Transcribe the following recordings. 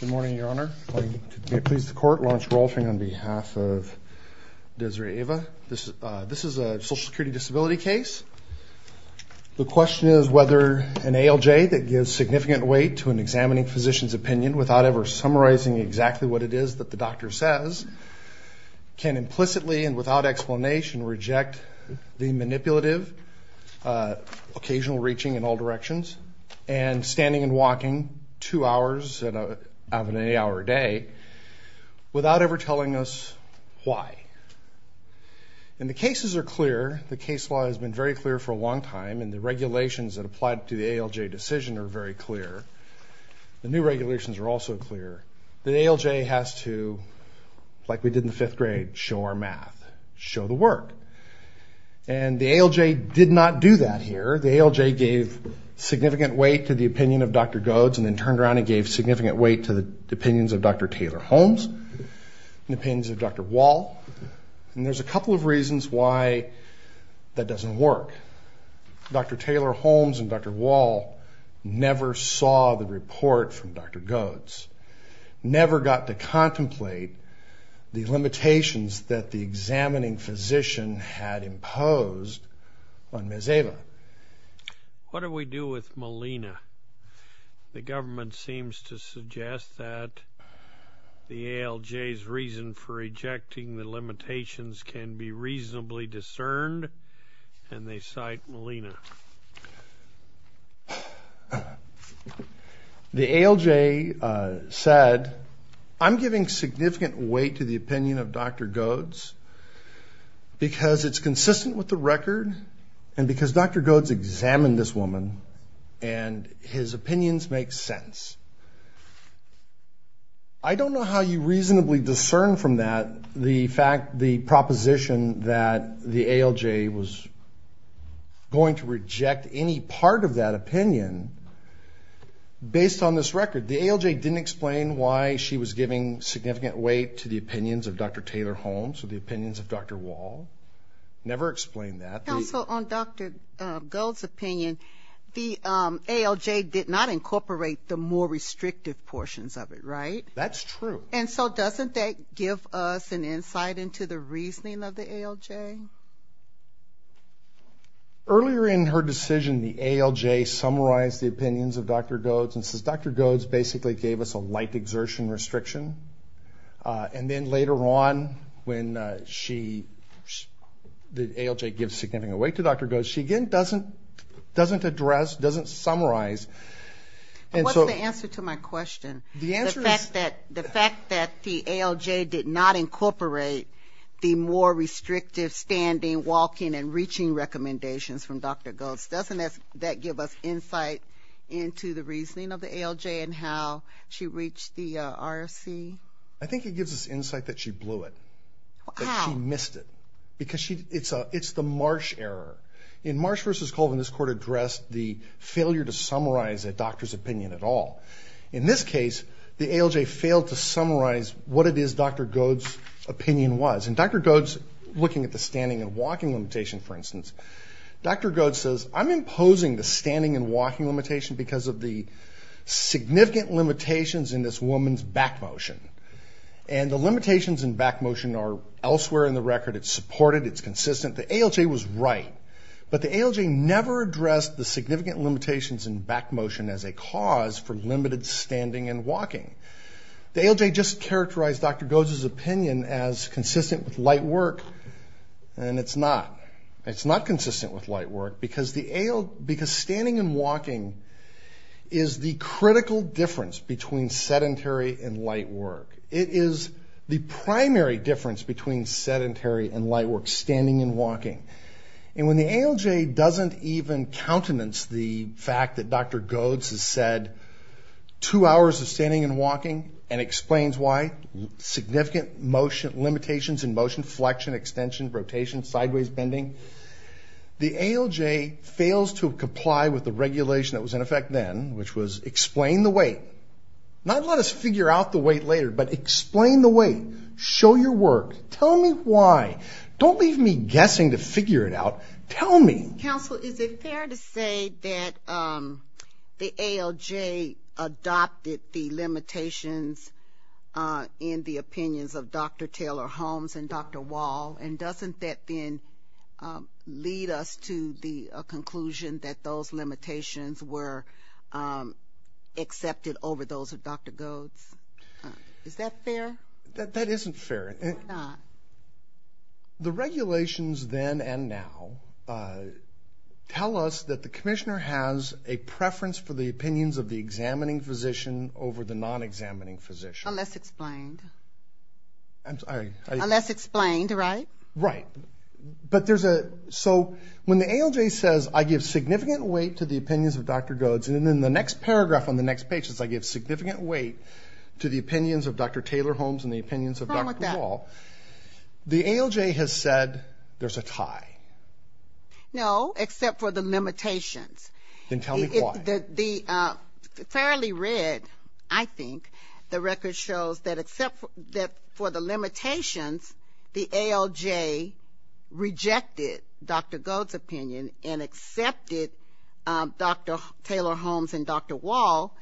Good morning, Your Honor. I'm going to please the court, Lawrence Rolfing, on behalf of Desireh Ava. This is a social security disability case. The question is whether an ALJ that gives significant weight to an examining physician's opinion without ever summarizing exactly what it is that the doctor says can implicitly and without explanation reject the manipulative, occasional reaching in all directions and standing and walking two hours out of any hour of day without ever telling us why. And the cases are clear. The case law has been very clear for a long time and the regulations that apply to the ALJ decision are very clear. The new regulations are also clear. The ALJ has to, like we did in the fifth grade, show our math, show the work. And the ALJ did not do that here. The ALJ gave significant weight to the opinion of Dr. Godes and then turned around and gave significant weight to the opinions of Dr. Taylor-Holmes and the opinions of Dr. Wall. And there's a couple of reasons why that doesn't work. Dr. Taylor-Holmes and Dr. Wall never saw the report from Dr. Godes that the examining physician had imposed on Ms. Ava. What do we do with Melina? The government seems to suggest that the ALJ's reason for rejecting the limitations can be reasonably discerned and they cite Melina. The ALJ said, I'm giving significant weight to the opinion of Dr. Godes because it's consistent with the record and because Dr. Godes examined this woman and his opinions make sense. I don't know how you reasonably discern from that the proposition that the ALJ was going to reject any part of that opinion based on this record. The ALJ didn't explain why she was giving significant weight to the opinions of Dr. Taylor-Holmes or the opinions of Dr. Wall. Never explained that. Also, on Dr. Godes' opinion, the ALJ did not incorporate the more restrictive portions of it, right? That's true. And so doesn't that give us an insight into the reasoning of the ALJ? Earlier in her decision, the ALJ summarized the opinions of Dr. Godes and says, Dr. Godes basically gave us a light exertion restriction. And then later on when she, the ALJ gives significant weight to Dr. Godes, she again doesn't address, doesn't summarize, and so the answer is... The fact that the ALJ did not incorporate the more restrictive standing, walking, and reaching recommendations from Dr. Godes, doesn't that give us insight into the reasoning of the ALJ and how she reached the RFC? I think it gives us insight that she blew it, that she missed it because it's the Marsh error. In Marsh v. Colvin, this court addressed the failure to summarize a doctor's opinion at all. In this case, the ALJ failed to summarize what it is Dr. Godes' opinion was. Dr. Godes, looking at the standing and walking limitation for instance, Dr. Godes says, I'm imposing the standing and walking limitation because of the significant limitations in this woman's back motion. And the limitations in back motion are elsewhere in the record, it's supported, it's consistent, the ALJ was right. But the ALJ never addressed the significant limitations in back motion as a cause for limited standing and walking. The ALJ just characterized Dr. Godes' opinion as consistent with light work, and it's not. It's not consistent with light work because standing and walking is the critical difference between sedentary and light work. It is the primary difference between sedentary and light work, standing and walking. And when the ALJ doesn't even countenance the fact that Dr. Godes has said two hours of standing and walking and explains why, significant limitations in motion, flexion, extension, rotation, sideways bending, the ALJ fails to comply with the regulation that was in effect then, which was explain the weight. Not let us figure out the weight later, but explain the weight. Show your work. Tell me why. Don't leave me guessing to figure it out. Tell me. Counsel, is it fair to say that the ALJ adopted the limitations in the opinions of Dr. Taylor Holmes and Dr. Wall, and doesn't that then lead us to the conclusion that those limitations were accepted over those of Dr. Godes? Is that fair? That isn't fair. The regulations then and now tell us that the commissioner has a preference for the opinions of the examining physician over the non-examining physician. Unless explained. Unless explained, right? Right. But there's a, so when the ALJ says, I give significant weight to the opinions of Dr. Godes, and then the next paragraph on the next page says, I give significant weight to the opinions of Dr. Taylor Holmes and the opinions of Dr. Wall, the ALJ has said there's a tie. No, except for the limitations. Then tell me why. The, fairly read, I think, the record shows that except for the limitations, the ALJ has rejected Dr. Godes' opinion and accepted Dr. Taylor Holmes and Dr. Wall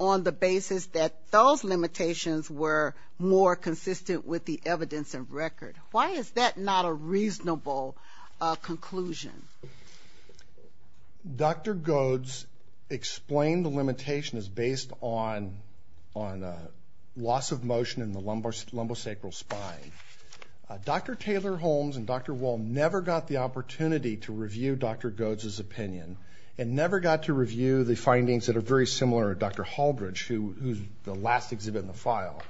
on the basis that those limitations were more consistent with the evidence and record. Why is that not a reasonable conclusion? Dr. Godes explained the limitations based on loss of motion in the lumbosacral spine. Dr. Taylor Holmes and Dr. Wall never got the opportunity to review Dr. Godes' opinion and never got to review the findings that are very similar to Dr. Halbridge, who's the last exhibit in the file,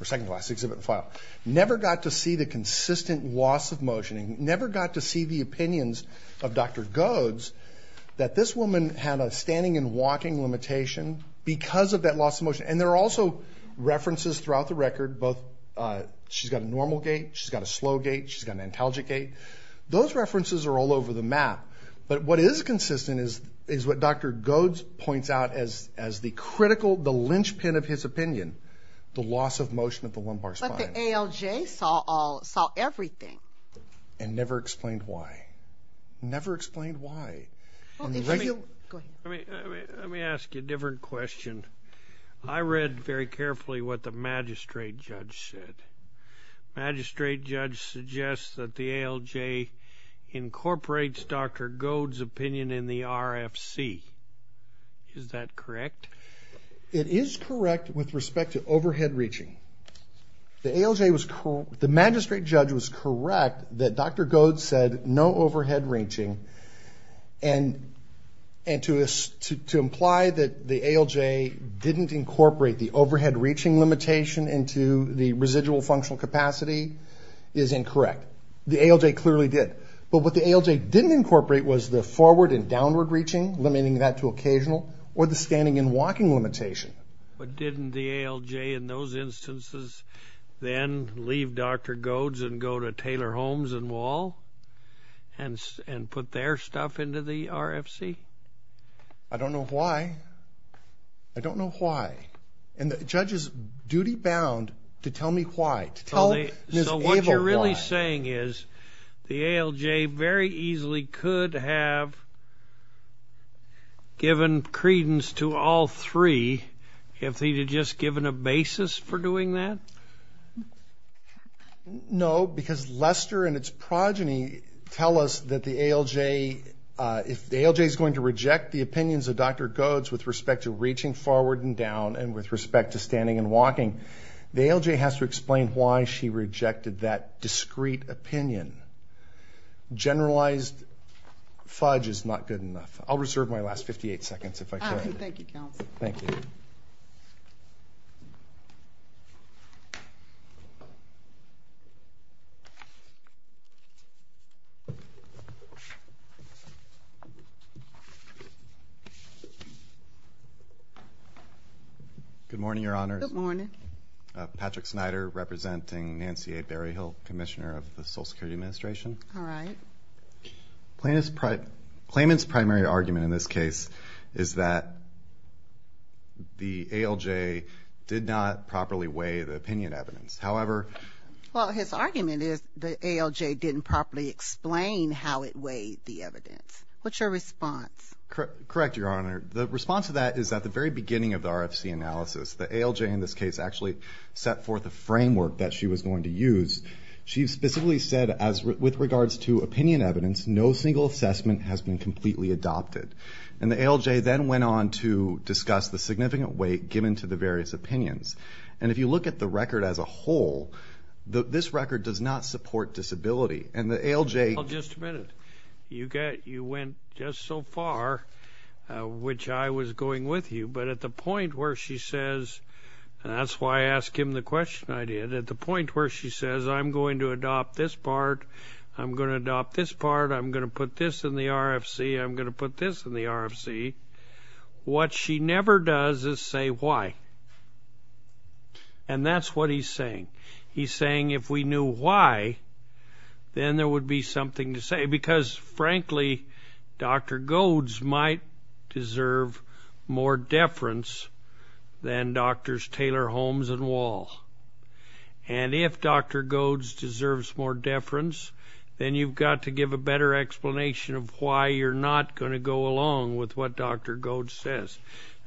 or second to the last exhibit in the file, never got to see the consistent loss of motion and never got to see the opinions of Dr. Godes that this woman had a standing and walking limitation because of that loss of motion. And there are also references throughout the record, both she's got a normal gait, she's got a slow gait, she's got an antalgic gait. Those references are all over the map, but what is consistent is what Dr. Godes points out as the critical, the linchpin of his opinion, the loss of motion of the lumbar spine. But the ALJ saw everything. And never explained why. Never explained why. Let me ask you a different question. I read very carefully what the magistrate judge said. Magistrate judge suggests that the ALJ incorporates Dr. Godes' opinion in the RFC. Is that correct? It is correct with respect to overhead reaching. The ALJ was, the magistrate judge was correct that Dr. Godes said no overhead reaching and to imply that the ALJ didn't incorporate the overhead reaching limitation into the residual functional capacity is incorrect. The ALJ clearly did. But what the ALJ didn't incorporate was the forward and downward reaching, limiting that to occasional, or the standing and walking limitation. But didn't the ALJ in those instances then leave Dr. Godes and go to Taylor Homes and Wall and put their stuff into the RFC? I don't know why. I don't know why. And the judge is duty bound to tell me why, to tell Ms. Abel why. So what you're really saying is the ALJ very easily could have given credence to all three if they had just given a basis for doing that? No, because Lester and its progeny tell us that the ALJ, if the ALJ is going to reject the opinions of Dr. Godes with respect to reaching forward and down and with respect to standing and walking, the ALJ has to explain why she rejected that discrete opinion. Generalized fudge is not good enough. I'll reserve my last 58 seconds if I could. Thank you, counsel. Thank you. Thank you. Good morning, Your Honors. Good morning. Patrick Snyder, representing Nancy A. Berryhill, Commissioner of the Social Security Administration. All right. Claimant's primary argument in this case is that the ALJ did not properly weigh the opinion evidence. However- Well, his argument is the ALJ didn't properly explain how it weighed the evidence. What's your response? Correct, Your Honor. The response to that is at the very beginning of the RFC analysis, the ALJ in this case actually set forth a framework that she was going to use. She specifically said, with regards to opinion evidence, no single assessment has been completely adopted. And the ALJ then went on to discuss the significant weight given to the various opinions. And if you look at the record as a whole, this record does not support disability. And the ALJ- Well, just a minute. You went just so far, which I was going with you. But at the point where she says, and that's why I ask him the question I did, at the point where she says, I'm going to adopt this part. I'm going to adopt this part. I'm going to put this in the RFC. I'm going to put this in the RFC. What she never does is say why. And that's what he's saying. He's saying if we knew why, then there would be something to say. Because frankly, Dr. Godes might deserve more deference than Drs. Taylor, Holmes, and Wall. And if Dr. Godes deserves more deference, then you've got to give a better explanation of why you're not going to go along with what Dr. Godes says.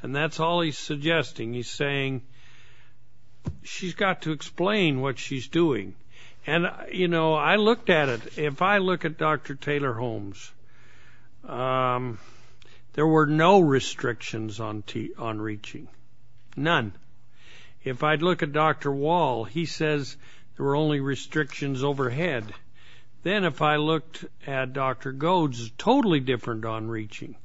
And that's all he's suggesting. He's saying she's got to explain what she's doing. And I looked at it. If I look at Dr. Taylor, Holmes, there were no restrictions on reaching, none. If I'd look at Dr. Wall, he says there were only restrictions overhead. Then if I looked at Dr. Godes, it's totally different on reaching.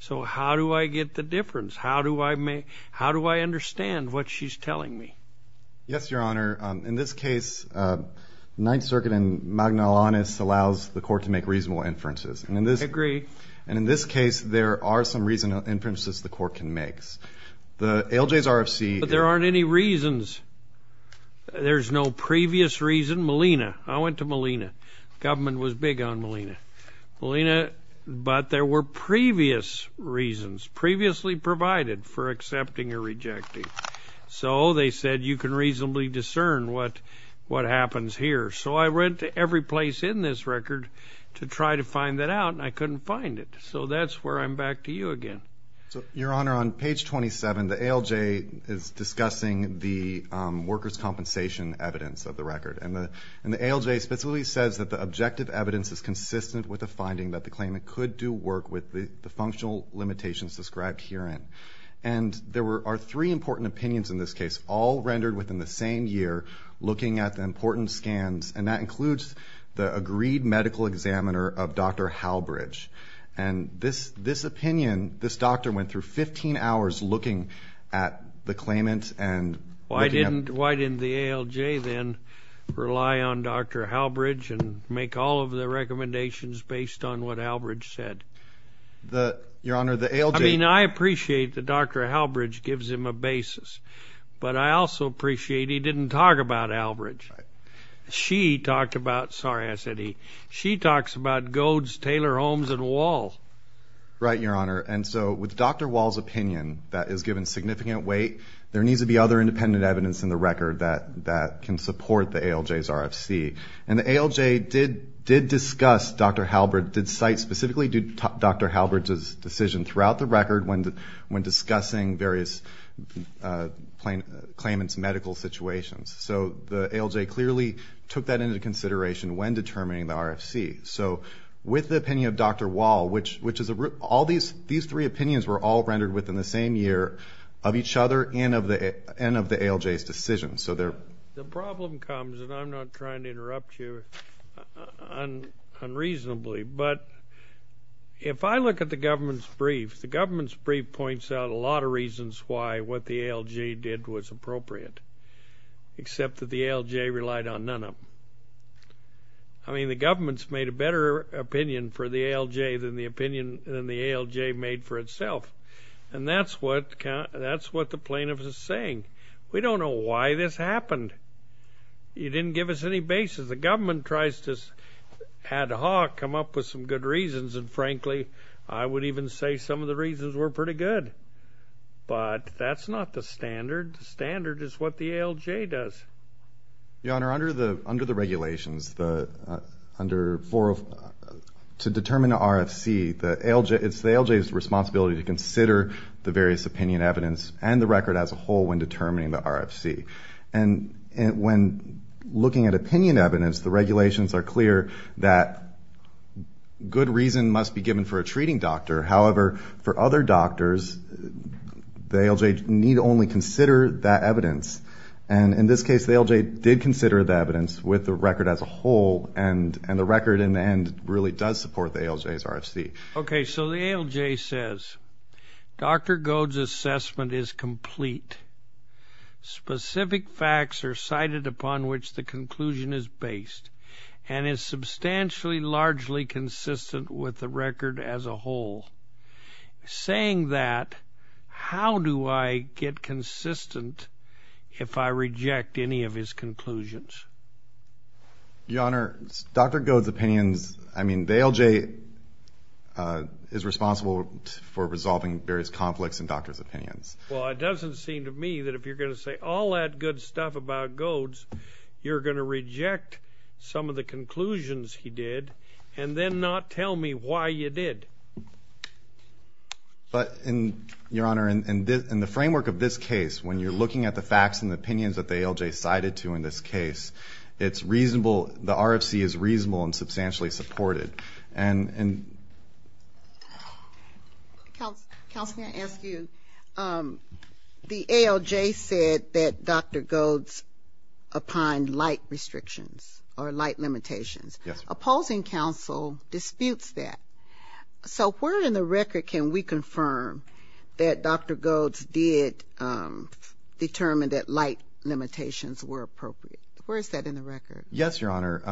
So how do I get the deference? How do I understand what she's telling me? Yes, Your Honor. In this case, Ninth Circuit and Magna Lawness allows the court to make reasonable inferences. I agree. And in this case, there are some reasonable inferences the court can make. The ALJ's RFC. There aren't any reasons. There's no previous reason. Molina. I went to Molina. Government was big on Molina. But there were previous reasons, previously provided for accepting or rejecting. So they said you can reasonably discern what happens here. So I went to every place in this record to try to find that out, and I couldn't find it. So that's where I'm back to you again. Your Honor, on page 27, the ALJ is discussing the workers' compensation evidence of the record. And the ALJ specifically says that the objective evidence is consistent with the finding that the claimant could do work with the functional limitations described herein. And there are three important opinions in this case, all rendered within the same year, looking at the important scans. And that includes the agreed medical examiner of Dr. Halbridge. And this opinion, this doctor went through 15 hours looking at the claimant and looking at- Why didn't the ALJ then rely on Dr. Halbridge and make all of the recommendations based on what Halbridge said? Your Honor, the ALJ- I mean, I appreciate that Dr. Halbridge gives him a basis. But I also appreciate he didn't talk about Halbridge. She talked about, sorry, I said he. She talks about Goads, Taylor, Holmes, and Wall. Right, Your Honor. And so with Dr. Wall's opinion that is given significant weight, there needs to be other independent evidence in the record that can support the ALJ's RFC. And the ALJ did discuss Dr. Halbridge, did cite specifically Dr. Halbridge's decision throughout the record when discussing various claimant's medical situations. So the ALJ clearly took that into consideration when determining the RFC. So with the opinion of Dr. Wall, which is- All these three opinions were all rendered within the same year of each other and of the ALJ's decision. So they're- The problem comes, and I'm not trying to interrupt you unreasonably, but if I look at the government's brief, the government's brief points out a lot of reasons why what the ALJ did was appropriate, except that the ALJ relied on none of them. I mean, the government's made a better opinion for the ALJ than the ALJ made for itself. And that's what the plaintiff is saying. We don't know why this happened. You didn't give us any basis. The government tries to ad hoc come up with some good reasons, and frankly, I would even say some of the reasons were pretty good. But that's not the standard. The standard is what the ALJ does. Your Honor, under the regulations, to determine the RFC, it's the ALJ's responsibility to consider the various opinion evidence and the record as a whole when determining the RFC. And when looking at opinion evidence, the regulations are clear that good reason must be given for a treating doctor. However, for other doctors, the ALJ need only consider that evidence. And in this case, the ALJ did consider the evidence with the record as a whole, and the record in the end really does support the ALJ's RFC. Okay, so the ALJ says, Dr. Goad's assessment is complete. Specific facts are cited upon which the conclusion is based and is substantially, largely consistent with the record as a whole. Saying that, how do I get consistent if I reject any of his conclusions? Your Honor, Dr. Goad's opinions, I mean, the ALJ is responsible for resolving various conflicts in doctors' opinions. Well, it doesn't seem to me that if you're going to say all that good stuff about Goad's, you're going to reject some of the conclusions he did and then not tell me why you did. But, and, your Honor, in the framework of this case, when you're looking at the facts and the opinions that the ALJ cited to in this case, it's reasonable, the RFC is reasonable and substantially supported. And, and. Counsel, may I ask you, the ALJ said that Dr. Goad's upon light restrictions, or light limitations. Yes. Opposing counsel disputes that. So where in the record can we confirm that Dr. Goad's did determine that light limitations were appropriate? Where is that in the record? Yes, your Honor.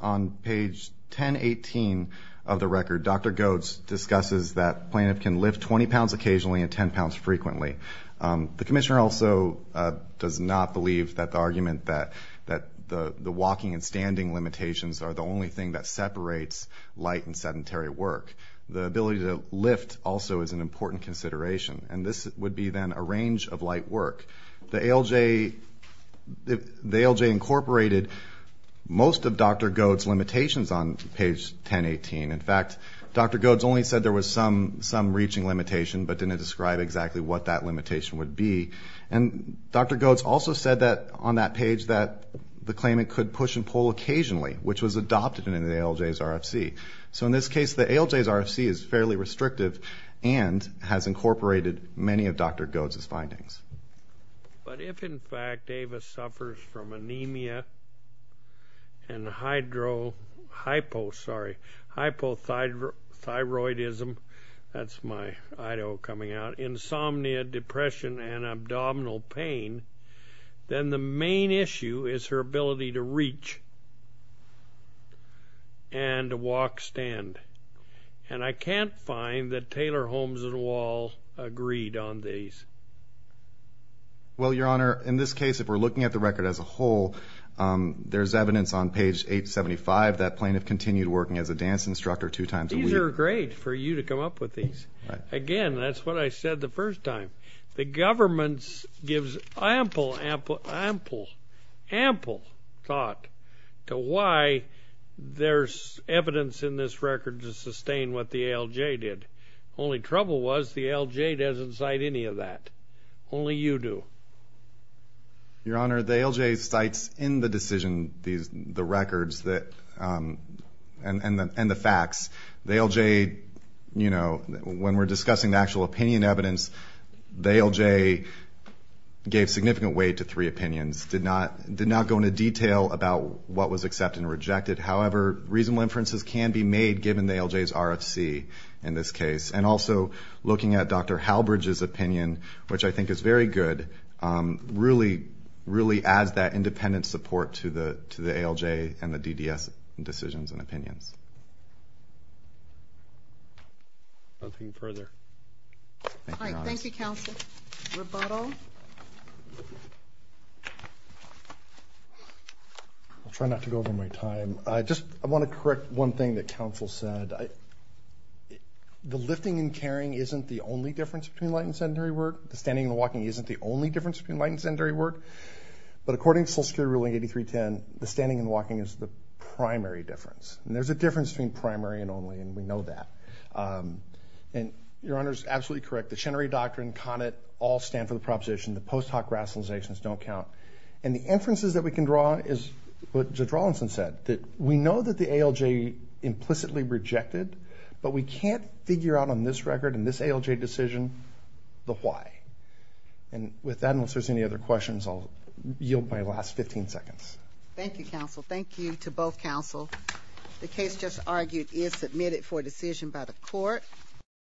On page 1018 of the record, Dr. Goad's discusses that plaintiff can lift 20 pounds occasionally and 10 pounds frequently. The commissioner also does not believe that the argument that, that the, the walking and standing limitations are the only thing that separates light and sedentary work. The ability to lift also is an important consideration. And this would be then a range of light work. The ALJ, the ALJ incorporated most of Dr. Goad's limitations on page 1018. In fact, Dr. Goad's only said there was some, some reaching limitation, but didn't describe exactly what that limitation would be. And Dr. Goad's also said that on that page that the claimant could push and pull occasionally, which was adopted in the ALJ's RFC. So in this case, the ALJ's RFC is fairly restrictive and has incorporated many of Dr. Goad's findings. But if in fact Ava suffers from anemia and hydro, hypo, sorry, hypothyroidism. That's my idol coming out. Insomnia, depression, and abdominal pain. Then the main issue is her ability to reach and to walk, stand. And I can't find that Taylor Holmes et al. agreed on these. Well, your honor, in this case, if we're looking at the record as a whole, there's evidence on page 875 that plaintiff continued working as a dance instructor two times a week. These are great for you to come up with these. Again, that's what I said the first time. The government gives ample, ample, ample, ample thought to why there's evidence in this record to sustain what the ALJ did. Only trouble was, the ALJ doesn't cite any of that. Only you do. Your honor, the ALJ cites in the decision the records and the facts. The ALJ, you know, when we're discussing the actual opinion evidence, the ALJ gave significant weight to three opinions. Did not go into detail about what was accepted and rejected. However, reasonable inferences can be made given the ALJ's RFC in this case. And also, looking at Dr. Halbridge's opinion, which I think is very good, really adds that independent support to the ALJ and the DDS decisions and opinions. Nothing further. Thank you, your honor. All right, thank you, counsel. Rebuttal. I'll try not to go over my time. I just, I want to correct one thing that counsel said. The lifting and carrying isn't the only difference between light and sedentary work. The standing and walking isn't the only difference between light and sedentary work. But according to Social Security ruling 8310, the standing and walking is the primary difference. And there's a difference between primary and only, and we know that. And your honor's absolutely correct. The Chenery Doctrine, CONIT, all stand for the proposition. The post hoc rationalizations don't count. And the inferences that we can draw is what Judge Rawlinson said, that we know that the ALJ implicitly rejected, but we can't figure out on this record, in this ALJ decision, the why. And with that, unless there's any other questions, I'll yield my last 15 seconds. Thank you, counsel. Thank you to both counsel. The case just argued is submitted for decision by the court.